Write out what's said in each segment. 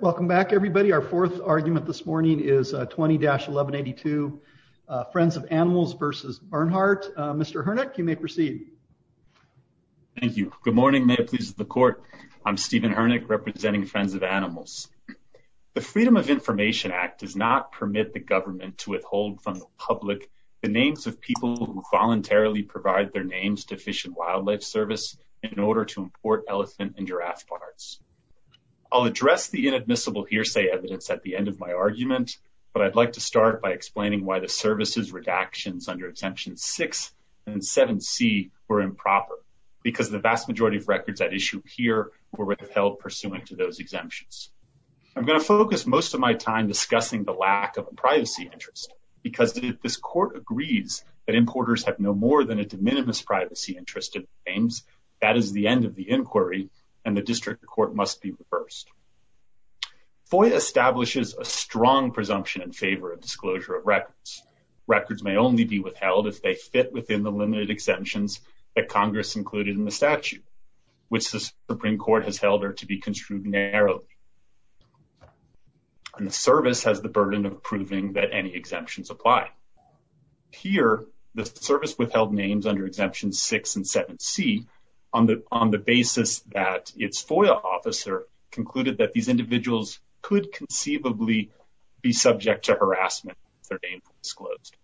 Welcome back everybody. Our fourth argument this morning is 20-1182, Friends of Animals v. Bernhardt. Mr. Hurnick, you may proceed. Thank you. Good morning. May it please the court. I'm Stephen Hurnick representing Friends of Animals. The Freedom of Information Act does not permit the government to withhold from the public the names of people who voluntarily provide their names to Fish and Wildlife Service in order to import elephant and giraffe parts. I'll address the inadmissible hearsay evidence at the end of my argument, but I'd like to start by explaining why the services redactions under Exemptions 6 and 7c were improper because the vast majority of records at issue here were withheld pursuant to those exemptions. I'm going to focus most of my time discussing the lack of a privacy interest because if this court agrees that importers have no more than a that is the end of the inquiry and the district court must be reversed. FOIA establishes a strong presumption in favor of disclosure of records. Records may only be withheld if they fit within the limited exemptions that Congress included in the statute, which the Supreme Court has held are to be construed narrowly. And the service has the burden of proving that any exemptions apply. Here, the service withheld names under Exemptions 6 and 7c on the basis that its FOIA officer concluded that these individuals could conceivably be subject to harassment if their name was disclosed.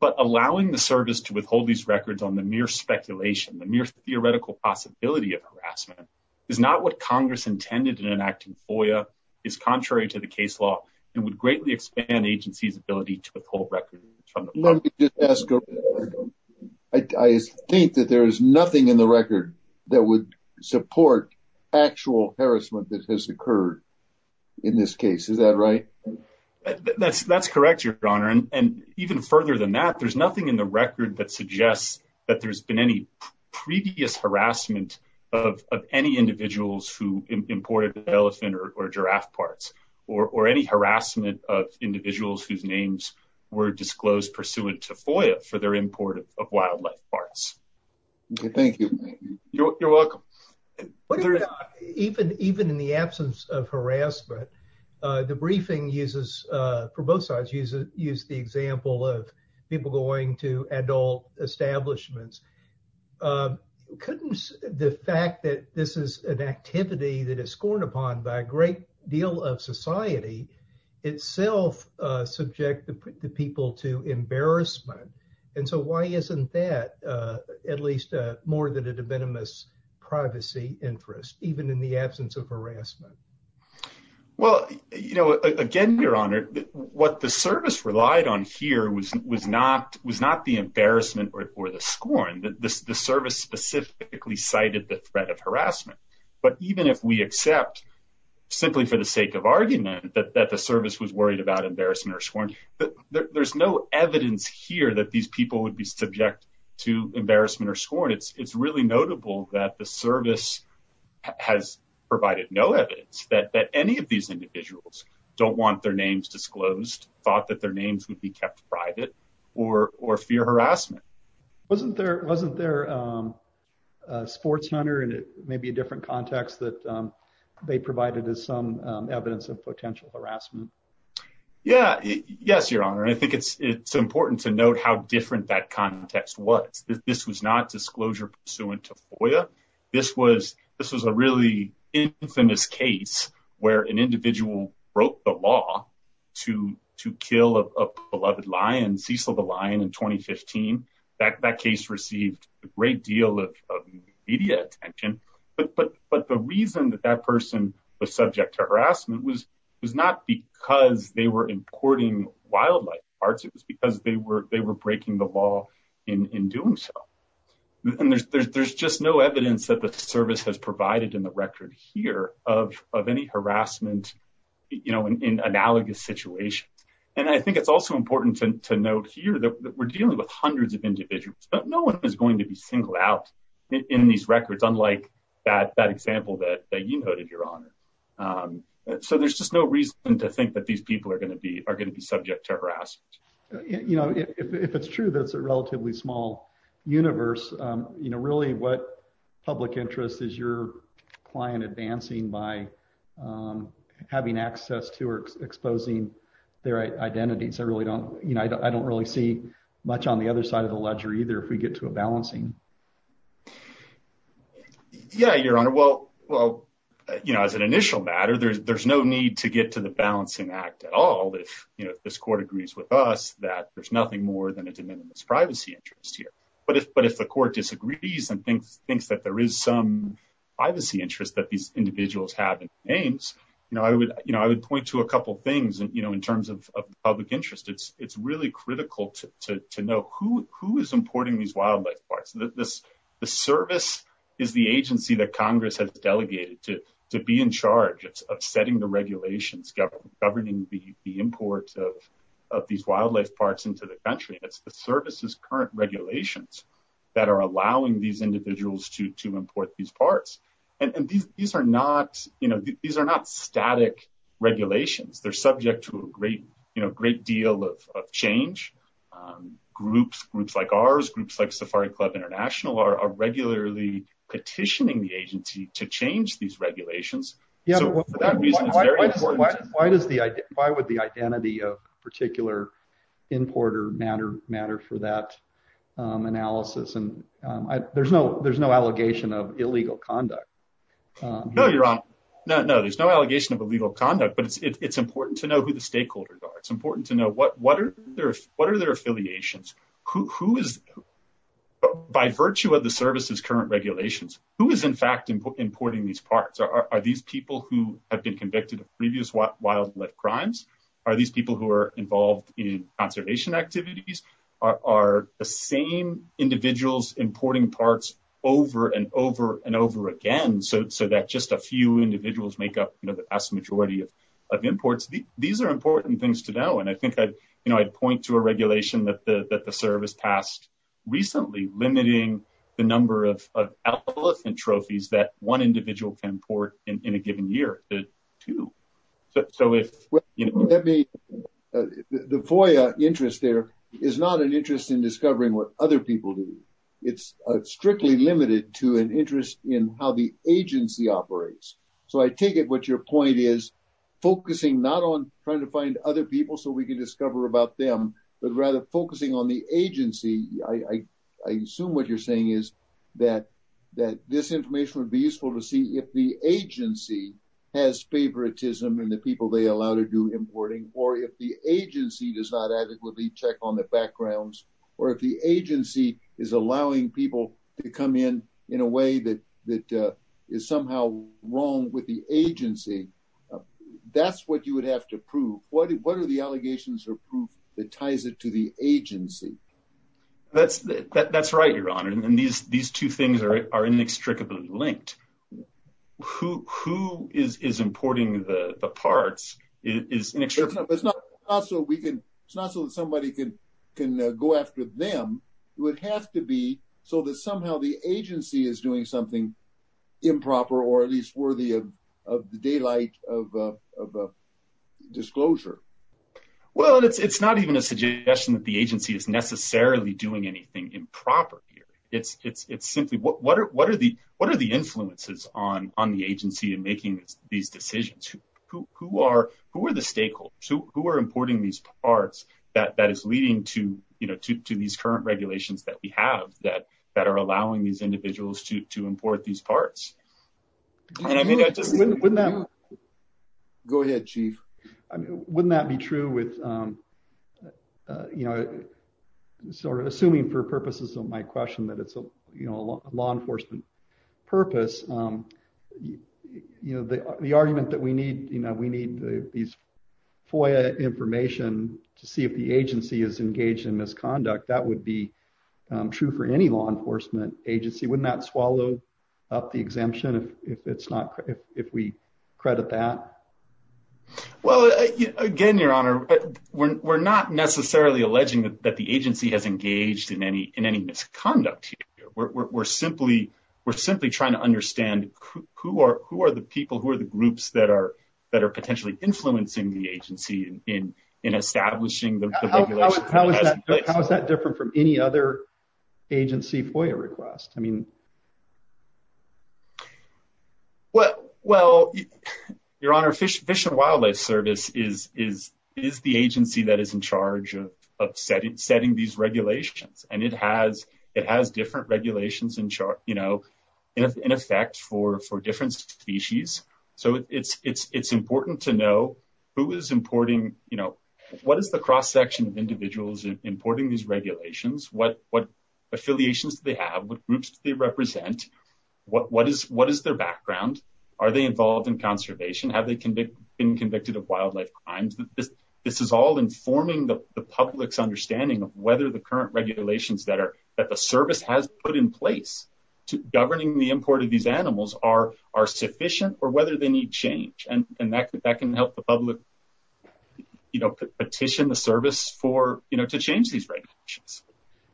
But allowing the service to withhold these records on the mere speculation, the mere theoretical possibility of harassment, is not what Congress intended in enacting FOIA, is contrary to the Let me just ask, I think that there is nothing in the record that would support actual harassment that has occurred in this case, is that right? That's correct, your honor. And even further than that, there's nothing in the record that suggests that there's been any previous harassment of any individuals who imported elephant or giraffe parts or any harassment of individuals whose names were disclosed pursuant to FOIA for their import of wildlife parts. Thank you. You're welcome. Even in the absence of harassment, the briefing uses, for both sides, use the example of people going to adult establishments. Couldn't the fact that this is an activity that is scorned by a great deal of society itself subject the people to embarrassment? And so why isn't that at least more than a de minimis privacy interest, even in the absence of harassment? Well, you know, again, your honor, what the service relied on here was not the embarrassment or the scorn. The service specifically cited the threat of harassment. But even if we accept, simply for the sake of argument, that the service was worried about embarrassment or scorn, there's no evidence here that these people would be subject to embarrassment or scorn. It's really notable that the service has provided no evidence that any of these individuals don't want their their wasn't their sports hunter. And it may be a different context that they provided as some evidence of potential harassment. Yeah, yes, your honor. I think it's it's important to note how different that context was. This was not disclosure pursuant to FOIA. This was this was a really infamous case where an individual broke the law to to kill a beloved lion, Cecil the Lion, in 2015. That case received a great deal of media attention. But but but the reason that that person was subject to harassment was was not because they were importing wildlife parts. It was because they were they were breaking the law in doing so. And there's there's there's just no evidence that the service has provided in the record here of of any harassment, you know, in analogous situation. And I think it's also important to note here that we're dealing with no one is going to be singled out in these records, unlike that that example that you noted, your honor. So there's just no reason to think that these people are going to be are going to be subject to harassment. You know, if it's true, that's a relatively small universe. You know, really, what public interest is your client advancing by having access to or exposing their identities? I really don't, you know, I don't really see much on the other side of the ledger, either, if we get to a balancing. Yeah, your honor, well, well, you know, as an initial matter, there's there's no need to get to the balancing act at all, if you know, this court agrees with us that there's nothing more than a de minimis privacy interest here. But if but if the court disagrees and thinks thinks that there is some privacy interest that these individuals have names, you know, I would, you know, I would point to a couple things. And, you know, in terms of public interest, it's, it's really critical to know who who is importing these wildlife parks, this, the service is the agency that Congress has delegated to, to be in charge of setting the regulations governing governing the import of these wildlife parks into the country, it's the services current regulations that are allowing these individuals to import these parts. And these are not, you know, these are not static regulations, they're subject to a great, you know, great deal of change. Groups, groups like ours, groups like Safari Club International are regularly petitioning the agency to change these regulations. Yeah. Why does the why would the identity of particular importer matter matter for that analysis? And there's no there's no allegation of illegal conduct. No, you're on. No, there's no allegation of illegal conduct. But it's important to know who the stakeholders are. It's important to know what what are their what are their affiliations? Who is by virtue of the services current regulations, who is in fact, importing these parts? Are these people who have been convicted of previous what wildlife crimes? Are these people who are involved in conservation activities? Are the same individuals importing parts over and over and over again, so that just a few individuals make up the vast majority of imports? These are important things to know. And I think I'd, you know, I'd point to a regulation that the service passed recently limiting the number of elephant trophies that one individual can import in a the FOIA interest there is not an interest in discovering what other people do. It's strictly limited to an interest in how the agency operates. So I take it what your point is, focusing not on trying to find other people so we can discover about them, but rather focusing on the agency. I assume what you're saying is that that this information would be useful to see if agency has favoritism and the people they allow to do importing, or if the agency does not adequately check on the backgrounds, or if the agency is allowing people to come in, in a way that that is somehow wrong with the agency. That's what you would have to prove what what are the allegations or proof that ties it to the agency? That's, that's right, Your Honor. And these, these two things are inextricably linked. Who is importing the parts is inextricably linked. It's not so we can, it's not so that somebody can, can go after them. It would have to be so that somehow the agency is doing something improper, or at least worthy of the daylight of disclosure. Well, it's not even a suggestion that the agency is necessarily doing anything improper here. It's, it's, it's simply what, what are, what are the, what are the influences on, on the agency and making these decisions? Who, who are, who are the stakeholders? Who, who are importing these parts that, that is leading to, you know, to, to these current regulations that we have that, that are allowing these individuals to, to import these parts? And I mean, wouldn't that go ahead, chief? I mean, wouldn't that be true with, um, uh, you know, sort of assuming for purposes of my question that it's a, you know, a law enforcement purpose. Um, you know, the, the argument that we need, you know, we need these FOIA information to see if the agency is engaged in misconduct, that would be, um, true for any law enforcement agency. Wouldn't that swallow up the exemption if, if it's not, if, if we credit that? Well, again, your honor, we're, we're not necessarily alleging that the agency has engaged in any, in any misconduct here. We're, we're, we're simply, we're simply trying to understand who are, who are the people, who are the groups that are, that are potentially influencing the agency in, in, in establishing the regulation. How is that different from any other agency FOIA request? I mean. Well, well, your honor, Fish and Wildlife Service is, is, is the agency that is in charge of, of setting, setting these regulations. And it has, it has different regulations in charge, you know, in effect for, for different species. So it's, it's, it's important to know who is importing, you know, what is the cross-section of individuals importing these regulations? What, what affiliations do they have? What groups do they represent? What, what is, what is their background? Are they involved in conservation? Have they convicted, been convicted of wildlife crimes? This, this is all informing the public's understanding of whether the current regulations that are, that the service has put in place to governing the import of these animals are, are sufficient or whether they need change. And, and that, that can help the public, you know, petition the service for, you know, to change these regulations.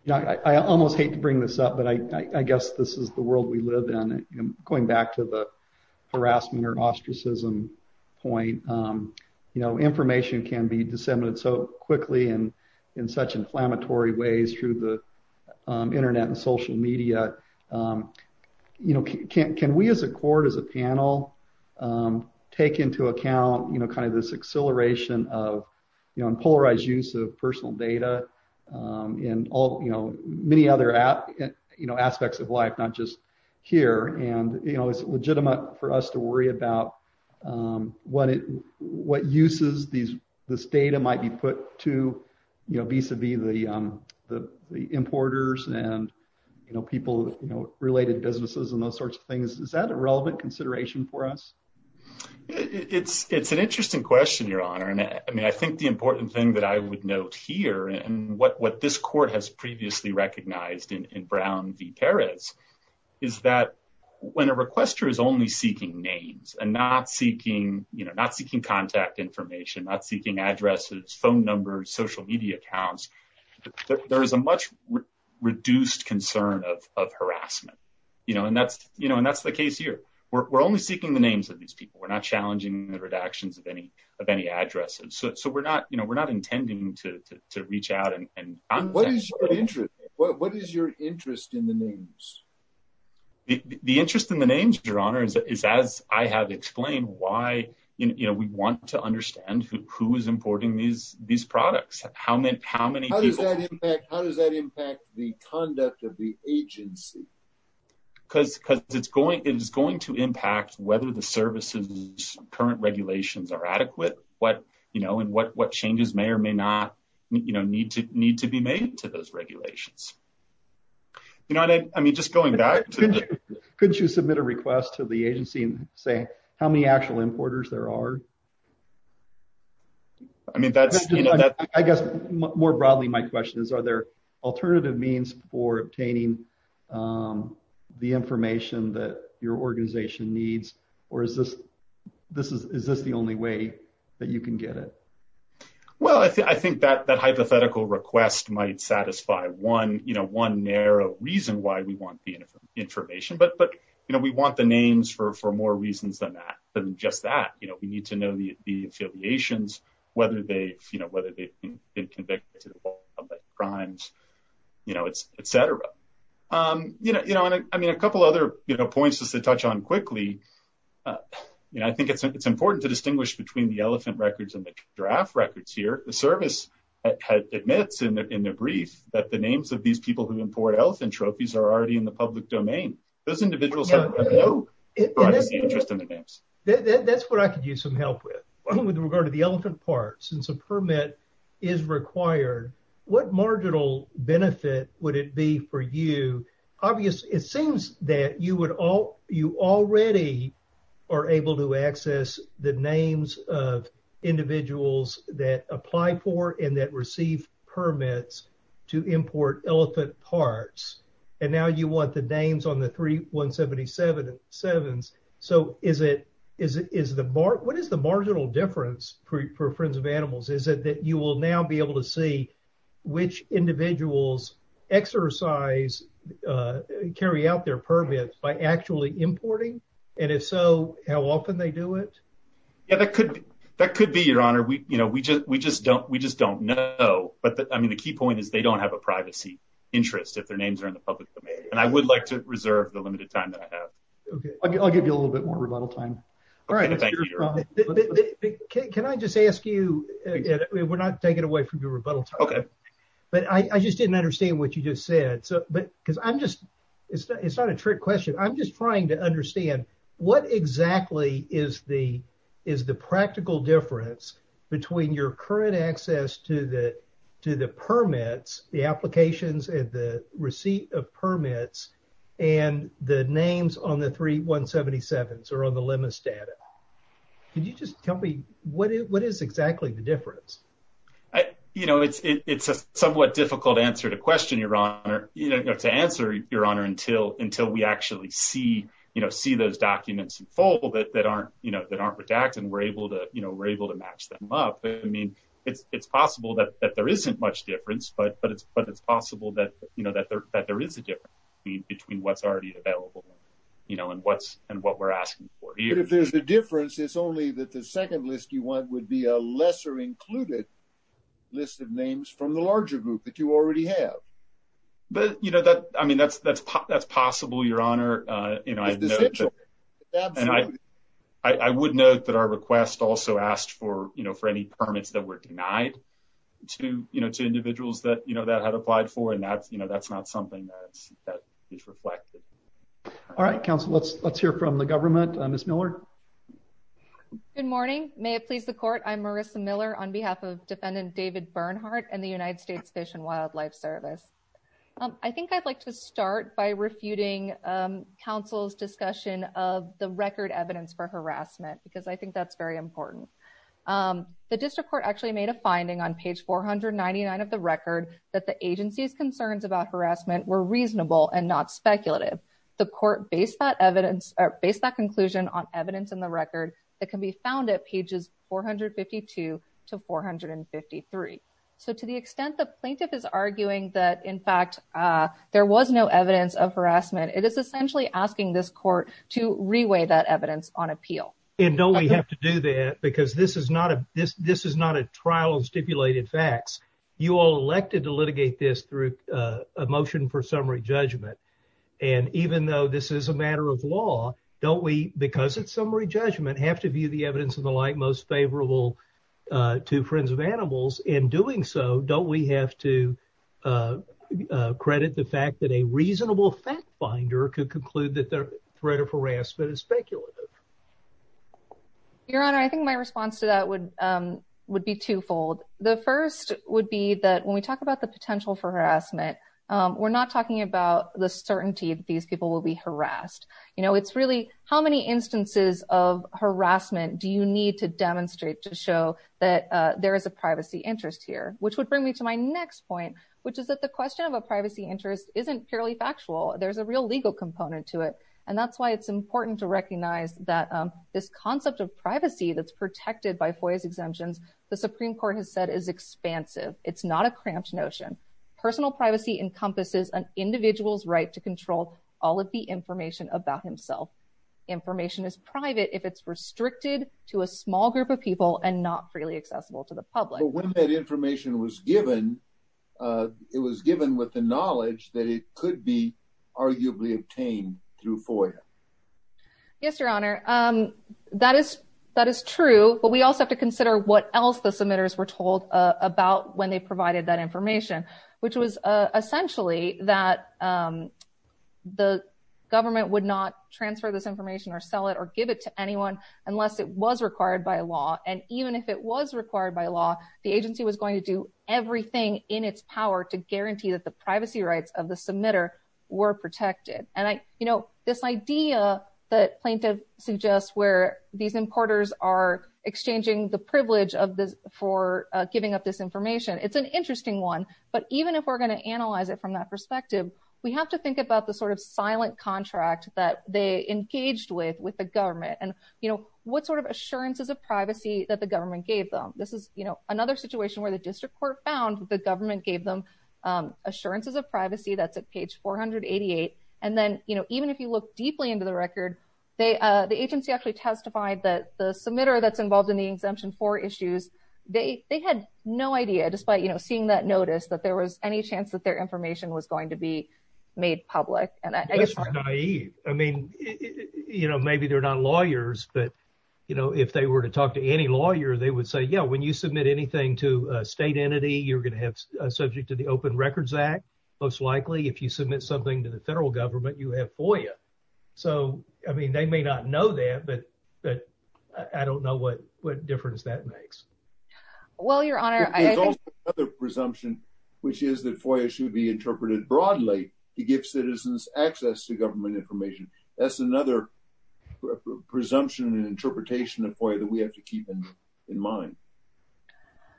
You know, I, I almost hate to bring this up, but I, I guess this is the world we live in. Going back to the harassment or ostracism point, you know, information can be disseminated so quickly and in such inflammatory ways through the internet and social media. You know, can, can we as a court, as a panel take into account, you know, kind of this exhilaration of, you know, and polarized use of personal data in all, you know, many other, you know, aspects of life, not just here. And, you know, it's legitimate for us to worry about what it, what uses these, this data might be put to, you know, vis-a-vis the, the, the importers and, you know, people, you know, related businesses and those sorts of things. Is that a relevant consideration for us? It's, it's an interesting question, Your Honor. And I mean, I think the important thing that I would note here and what, what this court has previously recognized in, in Brown v. Perez is that when a requester is only seeking names and not seeking, you know, not seeking contact information, not seeking addresses, phone numbers, social media accounts, there is a much reduced concern of, of harassment, you know, and that's, you know, and that's the case here. We're, we're only seeking the names of these people. We're not challenging the redactions of any, of any addresses. So, so we're not, you know, we're not intending to, to, to reach out and- And what is your interest? What is your interest in the names? The interest in the names, Your Honor, is as I have explained why, you know, we want to how many people- How does that impact, how does that impact the conduct of the agency? Because, because it's going, it is going to impact whether the service's current regulations are adequate, what, you know, and what, what changes may or may not, you know, need to, need to be made to those regulations. You know, I mean, just going back to- Couldn't you submit a request to the board? More broadly, my question is, are there alternative means for obtaining the information that your organization needs, or is this, this is, is this the only way that you can get it? Well, I think, I think that, that hypothetical request might satisfy one, you know, one narrow reason why we want the information, but, but, you know, we want the names for, for more reasons than that, than just that. You know, we need to know the, the affiliations, whether they've, you know, whether they've been convicted of public crimes, you know, et cetera. You know, you know, and I mean, a couple other, you know, points just to touch on quickly, you know, I think it's, it's important to distinguish between the elephant records and the draft records here. The service admits in their, in their brief that the names of these people who import elephant trophies are already in the public domain. Those individuals have no interest in the names. That's what I could use some help with, with regard to the elephant parts. Since a permit is required, what marginal benefit would it be for you? Obviously, it seems that you would all, you already are able to access the names of individuals that apply for and that receive permits to import elephant parts. And now you want the names on the 3177s. So is it, is it, is the mark, what is the marginal difference for, for Friends of Animals? Is it that you will now be able to see which individuals exercise, carry out their permits by actually importing? And if so, how often they do it? Yeah, that could, that could be your honor. We, you know, we just, we just don't, we just don't know. But I mean, the key point is they don't have a privacy interest if their names are in the public domain. And I would like to reserve the limited time that I have. Okay. I'll give you a little bit more rebuttal time. Can I just ask you, we're not taking away from your rebuttal time, but I just didn't understand what you just said. So, but cause I'm just, it's not, it's not a trick question. I'm just trying to understand what exactly is the, is the practical difference between your current access to the, to the permits, the applications and the receipt of permits and the names on the 3177s or on the limits data. Can you just tell me what is, what is exactly the difference? You know, it's, it's a somewhat difficult answer to question your honor, you know, to answer your honor until, until we actually see, you know, see those documents in full that, that aren't, you know, that aren't redacted and we're able to, you know, we're able to match them up. I mean, it's, it's possible that, that there isn't much difference, but, but it's, but it's possible that, you know, that there, that there is a difference between what's already available, you know, and what's, and what we're asking for. But if there's a difference, it's only that the second list you want would be a lesser included list of names from the larger group that you already have. But you know, that, I mean, that's, that's, that's possible your honor. You know, I would note that our request also asked for, you know, for any permits that were denied to, you know, to individuals that, you know, that had applied for, and that's, you know, that's not something that's, that is reflected. All right, counsel, let's, let's hear from the government. Ms. Miller. Good morning. May it please the court. I'm Marissa Miller on behalf of defendant David Bernhardt and the United States Fish and Wildlife Service. I think I'd to start by refuting counsel's discussion of the record evidence for harassment, because I think that's very important. The district court actually made a finding on page 499 of the record that the agency's concerns about harassment were reasonable and not speculative. The court based that evidence or based that conclusion on evidence in the record that can be found at pages 452 to 453. So, to the extent the plaintiff is arguing that, in fact, there was no evidence of harassment, it is essentially asking this court to reweigh that evidence on appeal. And don't we have to do that, because this is not a, this, this is not a trial of stipulated facts. You all elected to litigate this through a motion for summary judgment, and even though this is a matter of law, don't we, because it's summary judgment, have to view the evidence and the like most favorable to friends of animals. In doing so, don't we have to credit the fact that a reasonable fact finder could conclude that their threat of harassment is speculative? Your Honor, I think my response to that would, would be twofold. The first would be that when we talk about the potential for harassment, we're not talking about the certainty that these people will be harassed. You know, it's really how many instances of harassment do you need to demonstrate that there is a privacy interest here? Which would bring me to my next point, which is that the question of a privacy interest isn't purely factual. There's a real legal component to it, and that's why it's important to recognize that this concept of privacy that's protected by FOIA's exemptions, the Supreme Court has said is expansive. It's not a cramped notion. Personal privacy encompasses an individual's right to control all of the information about himself. Information is private if it's restricted to a small group of people and not freely accessible to the public. When that information was given, it was given with the knowledge that it could be arguably obtained through FOIA. Yes, Your Honor. That is, that is true, but we also have to consider what else the submitters were told about when they provided that information, which was essentially that the government would not transfer this information or sell it or give it to anyone unless it was required by law. And even if it was required by law, the agency was going to do everything in its power to guarantee that the privacy rights of the submitter were protected. And I, you know, this idea that plaintiff suggests where these importers are even if we're going to analyze it from that perspective, we have to think about the sort of silent contract that they engaged with, with the government and, you know, what sort of assurances of privacy that the government gave them. This is, you know, another situation where the district court found the government gave them assurances of privacy. That's at page 488. And then, you know, even if you look deeply into the record, they, the agency actually testified that the submitter that's involved in the exemption for issues, they, they had no idea, despite, you know, seeing that notice that there was any chance that their information was going to be made public. And I guess, I mean, you know, maybe they're not lawyers, but, you know, if they were to talk to any lawyer, they would say, yeah, when you submit anything to a state entity, you're going to have a subject to the open records act. Most likely, if you submit something to the federal government, you have FOIA. So, I mean, they may not know that, but, but I don't know what difference that makes. Well, your honor, there's also another presumption, which is that FOIA should be interpreted broadly to give citizens access to government information. That's another presumption and interpretation of FOIA that we have to keep in mind.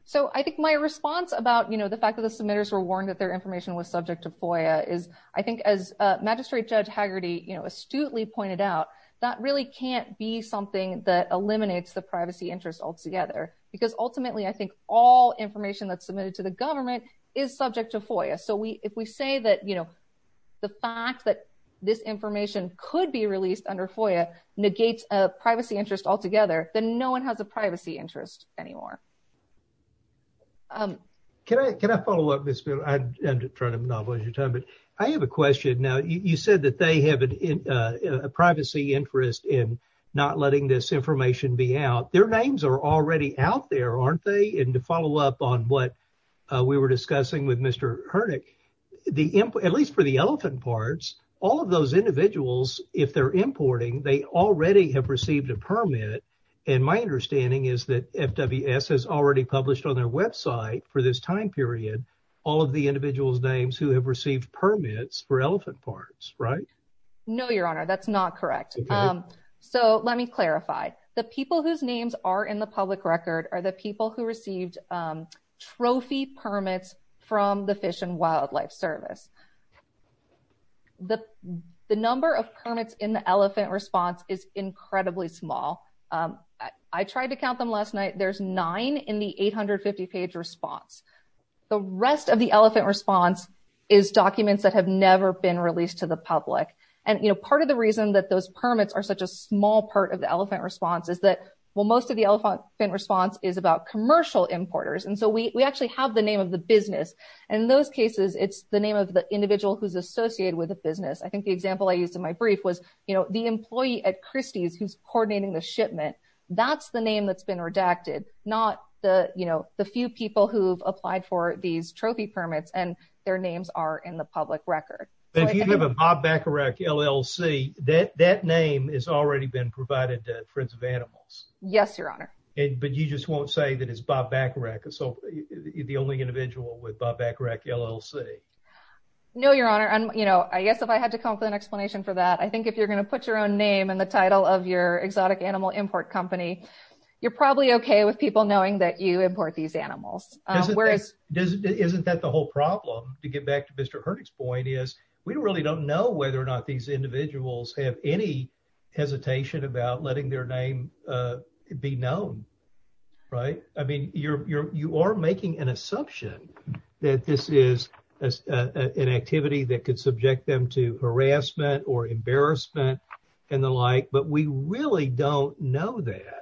So, I think my response about, you know, the fact that the submitters were warned that their information was subject to FOIA is, I think, as Magistrate Judge Hagerty, you know, astutely pointed out, that really can't be something that eliminates the privacy interest altogether. Because ultimately, I think all information that's submitted to the government is subject to FOIA. So, we, if we say that, you know, the fact that this information could be released under FOIA negates a privacy interest altogether, then no one has a privacy interest anymore. Can I, can I follow up? I'm trying to monopolize your time, but I have a question. Now, you said that they have a privacy interest in not letting this information be out. Their names are already out there, aren't they? And to follow up on what we were discussing with Mr. Hernick, the, at least for the elephant parts, all of those individuals, if they're importing, they already have received a permit. And my understanding is that FWS has already published on their website for this time period, all of the individual's names who have received permits for elephant parts, right? No, your honor. That's not correct. So, let me clarify. The people whose names are in the public record are the people who received trophy permits from the Fish and Wildlife Service. The, the number of permits in the elephant response is incredibly small. I tried to count them last night. There's nine in the 850 page response. The rest of the elephant response is documents that have never been released to the public. And, you know, part of the reason that those permits are such a small part of the elephant response is that, well, most of the elephant response is about commercial importers. And so we, we actually have the name of the business. And in those cases, it's the name of the individual who's associated with the business. I think the example I used in my brief was, you know, the employee at Christie's who's coordinating the not the, you know, the few people who've applied for these trophy permits and their names are in the public record. But if you have a Bob Bacharach LLC, that, that name is already been provided to Friends of Animals. Yes, your honor. But you just won't say that it's Bob Bacharach, so the only individual with Bob Bacharach LLC? No, your honor. And, you know, I guess if I had to come up with an explanation for that, I think if you're going to put your own name in the title of your exotic animal import company, you're probably okay with people knowing that you import these animals. Isn't that the whole problem to get back to Mr. Hurdick's point is we really don't know whether or not these individuals have any hesitation about letting their name be known, right? I mean, you're, you're, you are making an assumption that this is an activity that we really don't know that.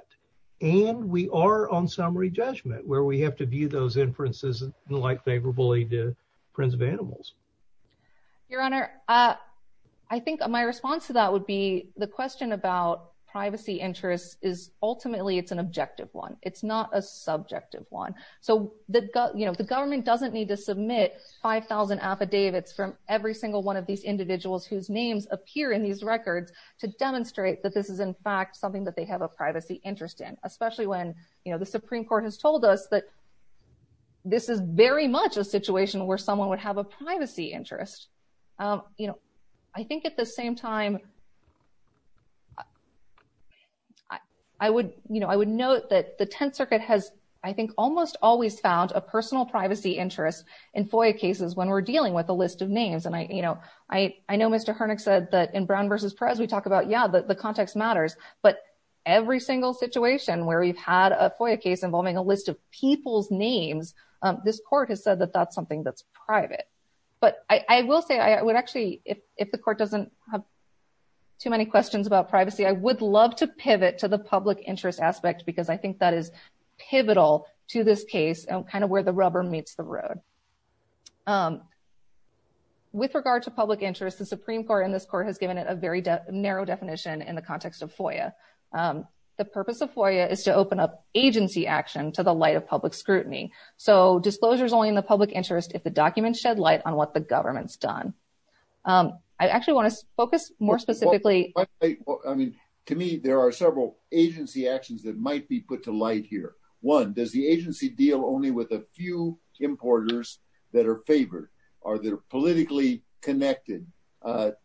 And we are on summary judgment where we have to view those inferences like favorably to Friends of Animals. Your honor, I think my response to that would be the question about privacy interests is ultimately it's an objective one. It's not a subjective one. So the, you know, the government doesn't need to submit 5,000 affidavits from every single one of these individuals whose names appear in these records to demonstrate that this is in fact something that they have a privacy interest in, especially when, you know, the Supreme Court has told us that this is very much a situation where someone would have a privacy interest. You know, I think at the same time, I would, you know, I would note that the Tenth Circuit has, I think, almost always found a personal privacy interest in FOIA cases when we're dealing with a list of names. And I, you know, I know Mr. Hernick said that in Brown versus Perez, we talk about, yeah, the context matters, but every single situation where we've had a FOIA case involving a list of people's names, this court has said that that's something that's private. But I will say, I would actually, if the court doesn't have too many questions about privacy, I would love to pivot to the public interest aspect because I think that is pivotal to this case and kind of where the rubber meets the road. With regard to public interest, the Supreme Court in this court has given it a very narrow definition in the context of FOIA. The purpose of FOIA is to open up agency action to the light of public scrutiny. So disclosure is only in the public interest if the documents shed light on what the government's done. I actually want to focus more specifically. I mean, to me, there are several agency actions that might be put to light here. One, does the agency deal only with a few importers that are favored or that are politically connected, that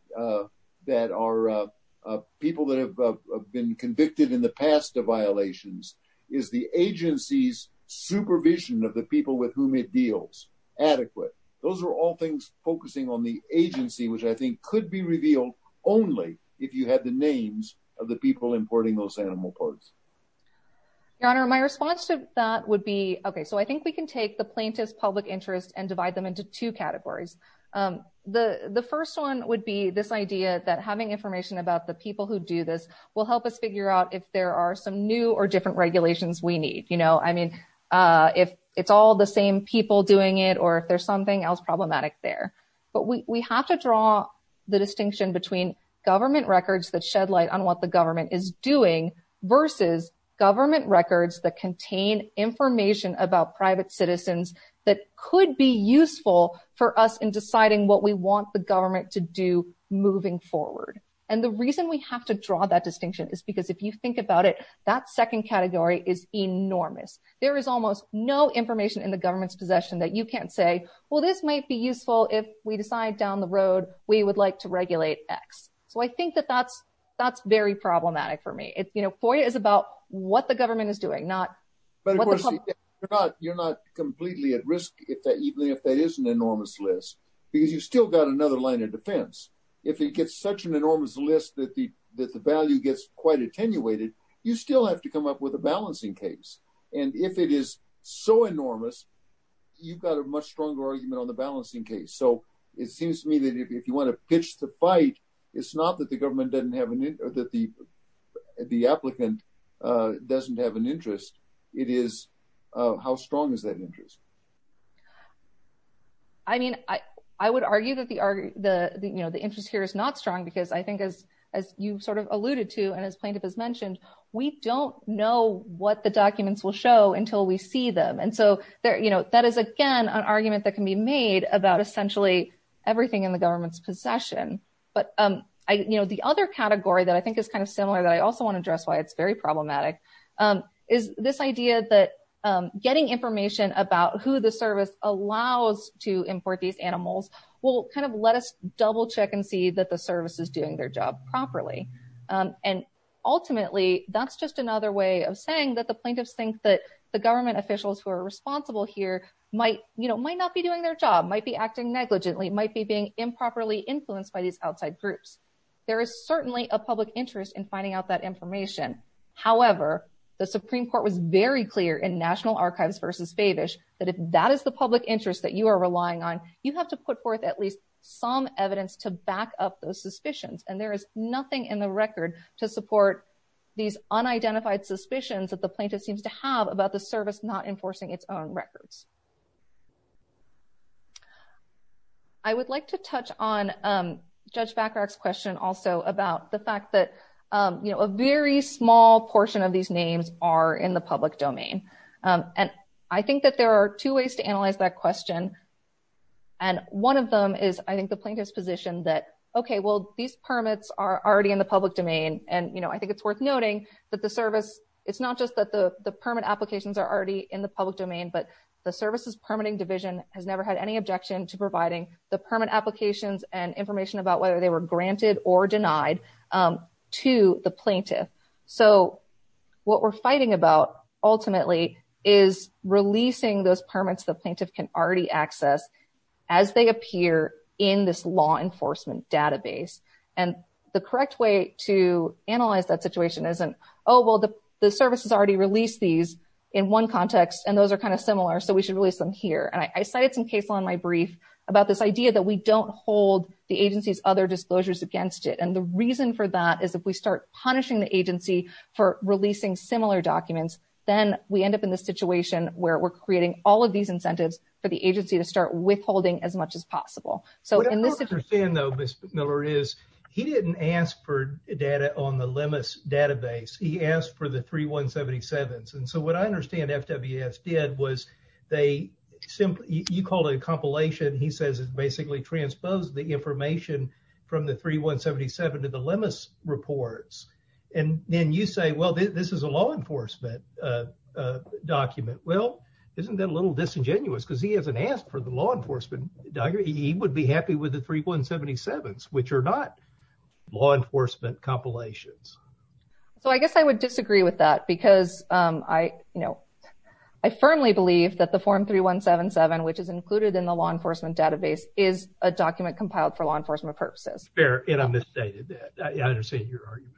are people that have been convicted in the past of violations? Is the agency's supervision of the people with whom it deals adequate? Those are all things focusing on the agency, which I think could be revealed only if you had the names of the people importing those documents. The response to that would be, okay, so I think we can take the plaintiff's public interest and divide them into two categories. The first one would be this idea that having information about the people who do this will help us figure out if there are some new or different regulations we need. I mean, if it's all the same people doing it or if there's something else problematic there. But we have to draw the distinction between government records that shed light on what government is doing versus government records that contain information about private citizens that could be useful for us in deciding what we want the government to do moving forward. And the reason we have to draw that distinction is because if you think about it, that second category is enormous. There is almost no information in the government's possession that you can't say, well, this might be useful if we decide down the road we would like to regulate X. So I think that that's very problematic for me. FOIA is about what the government is doing, not what the public is doing. You're not completely at risk, even if that is an enormous list, because you've still got another line of defense. If it gets such an enormous list that the value gets quite attenuated, you still have to come up with a balancing case. And if it is so enormous, you've got a much more complex case. If you want to pitch the fight, it's not that the government doesn't have an interest, or that the applicant doesn't have an interest. It is how strong is that interest? I mean, I would argue that the interest here is not strong, because I think as you sort of alluded to, and as plaintiff has mentioned, we don't know what the documents will show until we see them. And so that is, again, an argument that can be made about essentially everything in the government's possession. But the other category that I think is kind of similar, that I also want to address why it's very problematic, is this idea that getting information about who the service allows to import these animals will kind of let us double check and see that the service is doing their job properly. And ultimately, that's just another way of saying that the plaintiffs think that the government officials who are responsible here might, you know, might not be doing their job, might be acting negligently, might be being improperly influenced by these outside groups. There is certainly a public interest in finding out that information. However, the Supreme Court was very clear in National Archives versus Favish, that if that is the public interest that you are relying on, you have to put forth at least some evidence to back up those suspicions. And there is nothing in the record to support these unidentified suspicions that the plaintiff seems to have about the service not enforcing its own records. I would like to touch on Judge Bacharach's question also about the fact that, you know, a very small portion of these names are in the public domain. And I think that there are two ways to analyze that question. And one of them is, I think, the plaintiff's position that, okay, well, these permits are already in the public domain. And, you know, I think it's worth noting that the service, it's not just that the permit applications are already in the public domain, but the services permitting division has never had any objection to providing the permit applications and information about whether they were granted or denied to the plaintiff. So what we're fighting about, ultimately, is releasing those permits the plaintiff can already access as they appear in this law enforcement database. And the correct way to analyze that situation isn't, oh, well, the services already released these in one context, and those are kind of similar, so we should release them here. And I cited some case law in my brief about this idea that we don't hold the agency's other disclosures against it. And the reason for that is if we start punishing the agency for releasing similar documents, then we agency to start withholding as much as possible. So in this situation- What I don't understand, though, Ms. Miller, is he didn't ask for data on the LEMIS database. He asked for the 3177s. And so what I understand FWS did was they simply, you called it a compilation, he says it basically transposed the information from the 3177 to the LEMIS reports. And then you say, well, this is a law enforcement document. Well, isn't that a little disingenuous? Because he hasn't asked for the law enforcement document. He would be happy with the 3177s, which are not law enforcement compilations. So I guess I would disagree with that because I firmly believe that the Form 3177, which is included in the law enforcement database, is a document compiled for law enforcement purposes. Fair. And I misstated that. I understand your argument.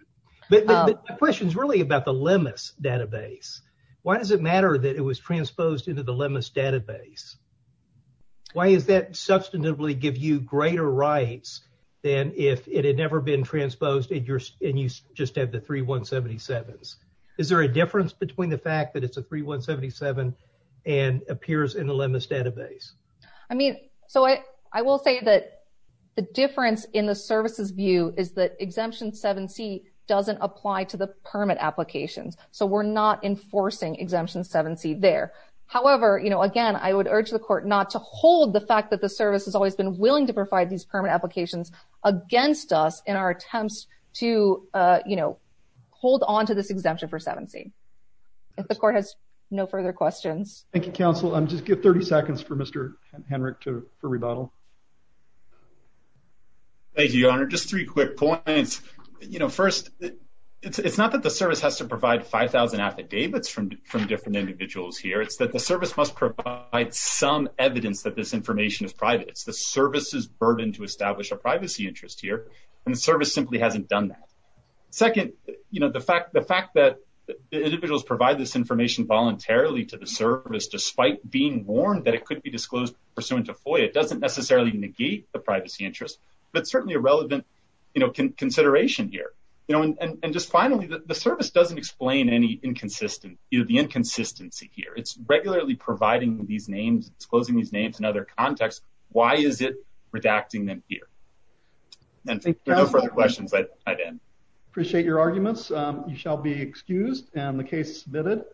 But my question is really about the LEMIS database. Why does it matter that it was Why does that substantively give you greater rights than if it had never been transposed and you just have the 3177s? Is there a difference between the fact that it's a 3177 and appears in the LEMIS database? I mean, so I will say that the difference in the services view is that Exemption 7C doesn't apply to the permit applications. So we're not enforcing Exemption 7C there. However, again, I would urge the court not to hold the fact that the service has always been willing to provide these permit applications against us in our attempts to hold on to this exemption for 7C. If the court has no further questions. Thank you, counsel. I'll just give 30 seconds for Mr. Henrich to rebuttal. Thank you, Your Honor. Just three quick points. First, it's not that the service has to provide 5,000 affidavits from different individuals here. It's that the service must provide some evidence that this information is private. It's the service's burden to establish a privacy interest here, and the service simply hasn't done that. Second, the fact that the individuals provide this information voluntarily to the service despite being warned that it could be disclosed pursuant to FOIA doesn't necessarily negate the privacy interest, but certainly a relevant consideration here. And just finally, the service doesn't explain any inconsistency here. It's regularly providing these names, disclosing these names in other contexts. Why is it redacting them here? And thank you for your questions. I appreciate your arguments. You shall be excused and the case submitted.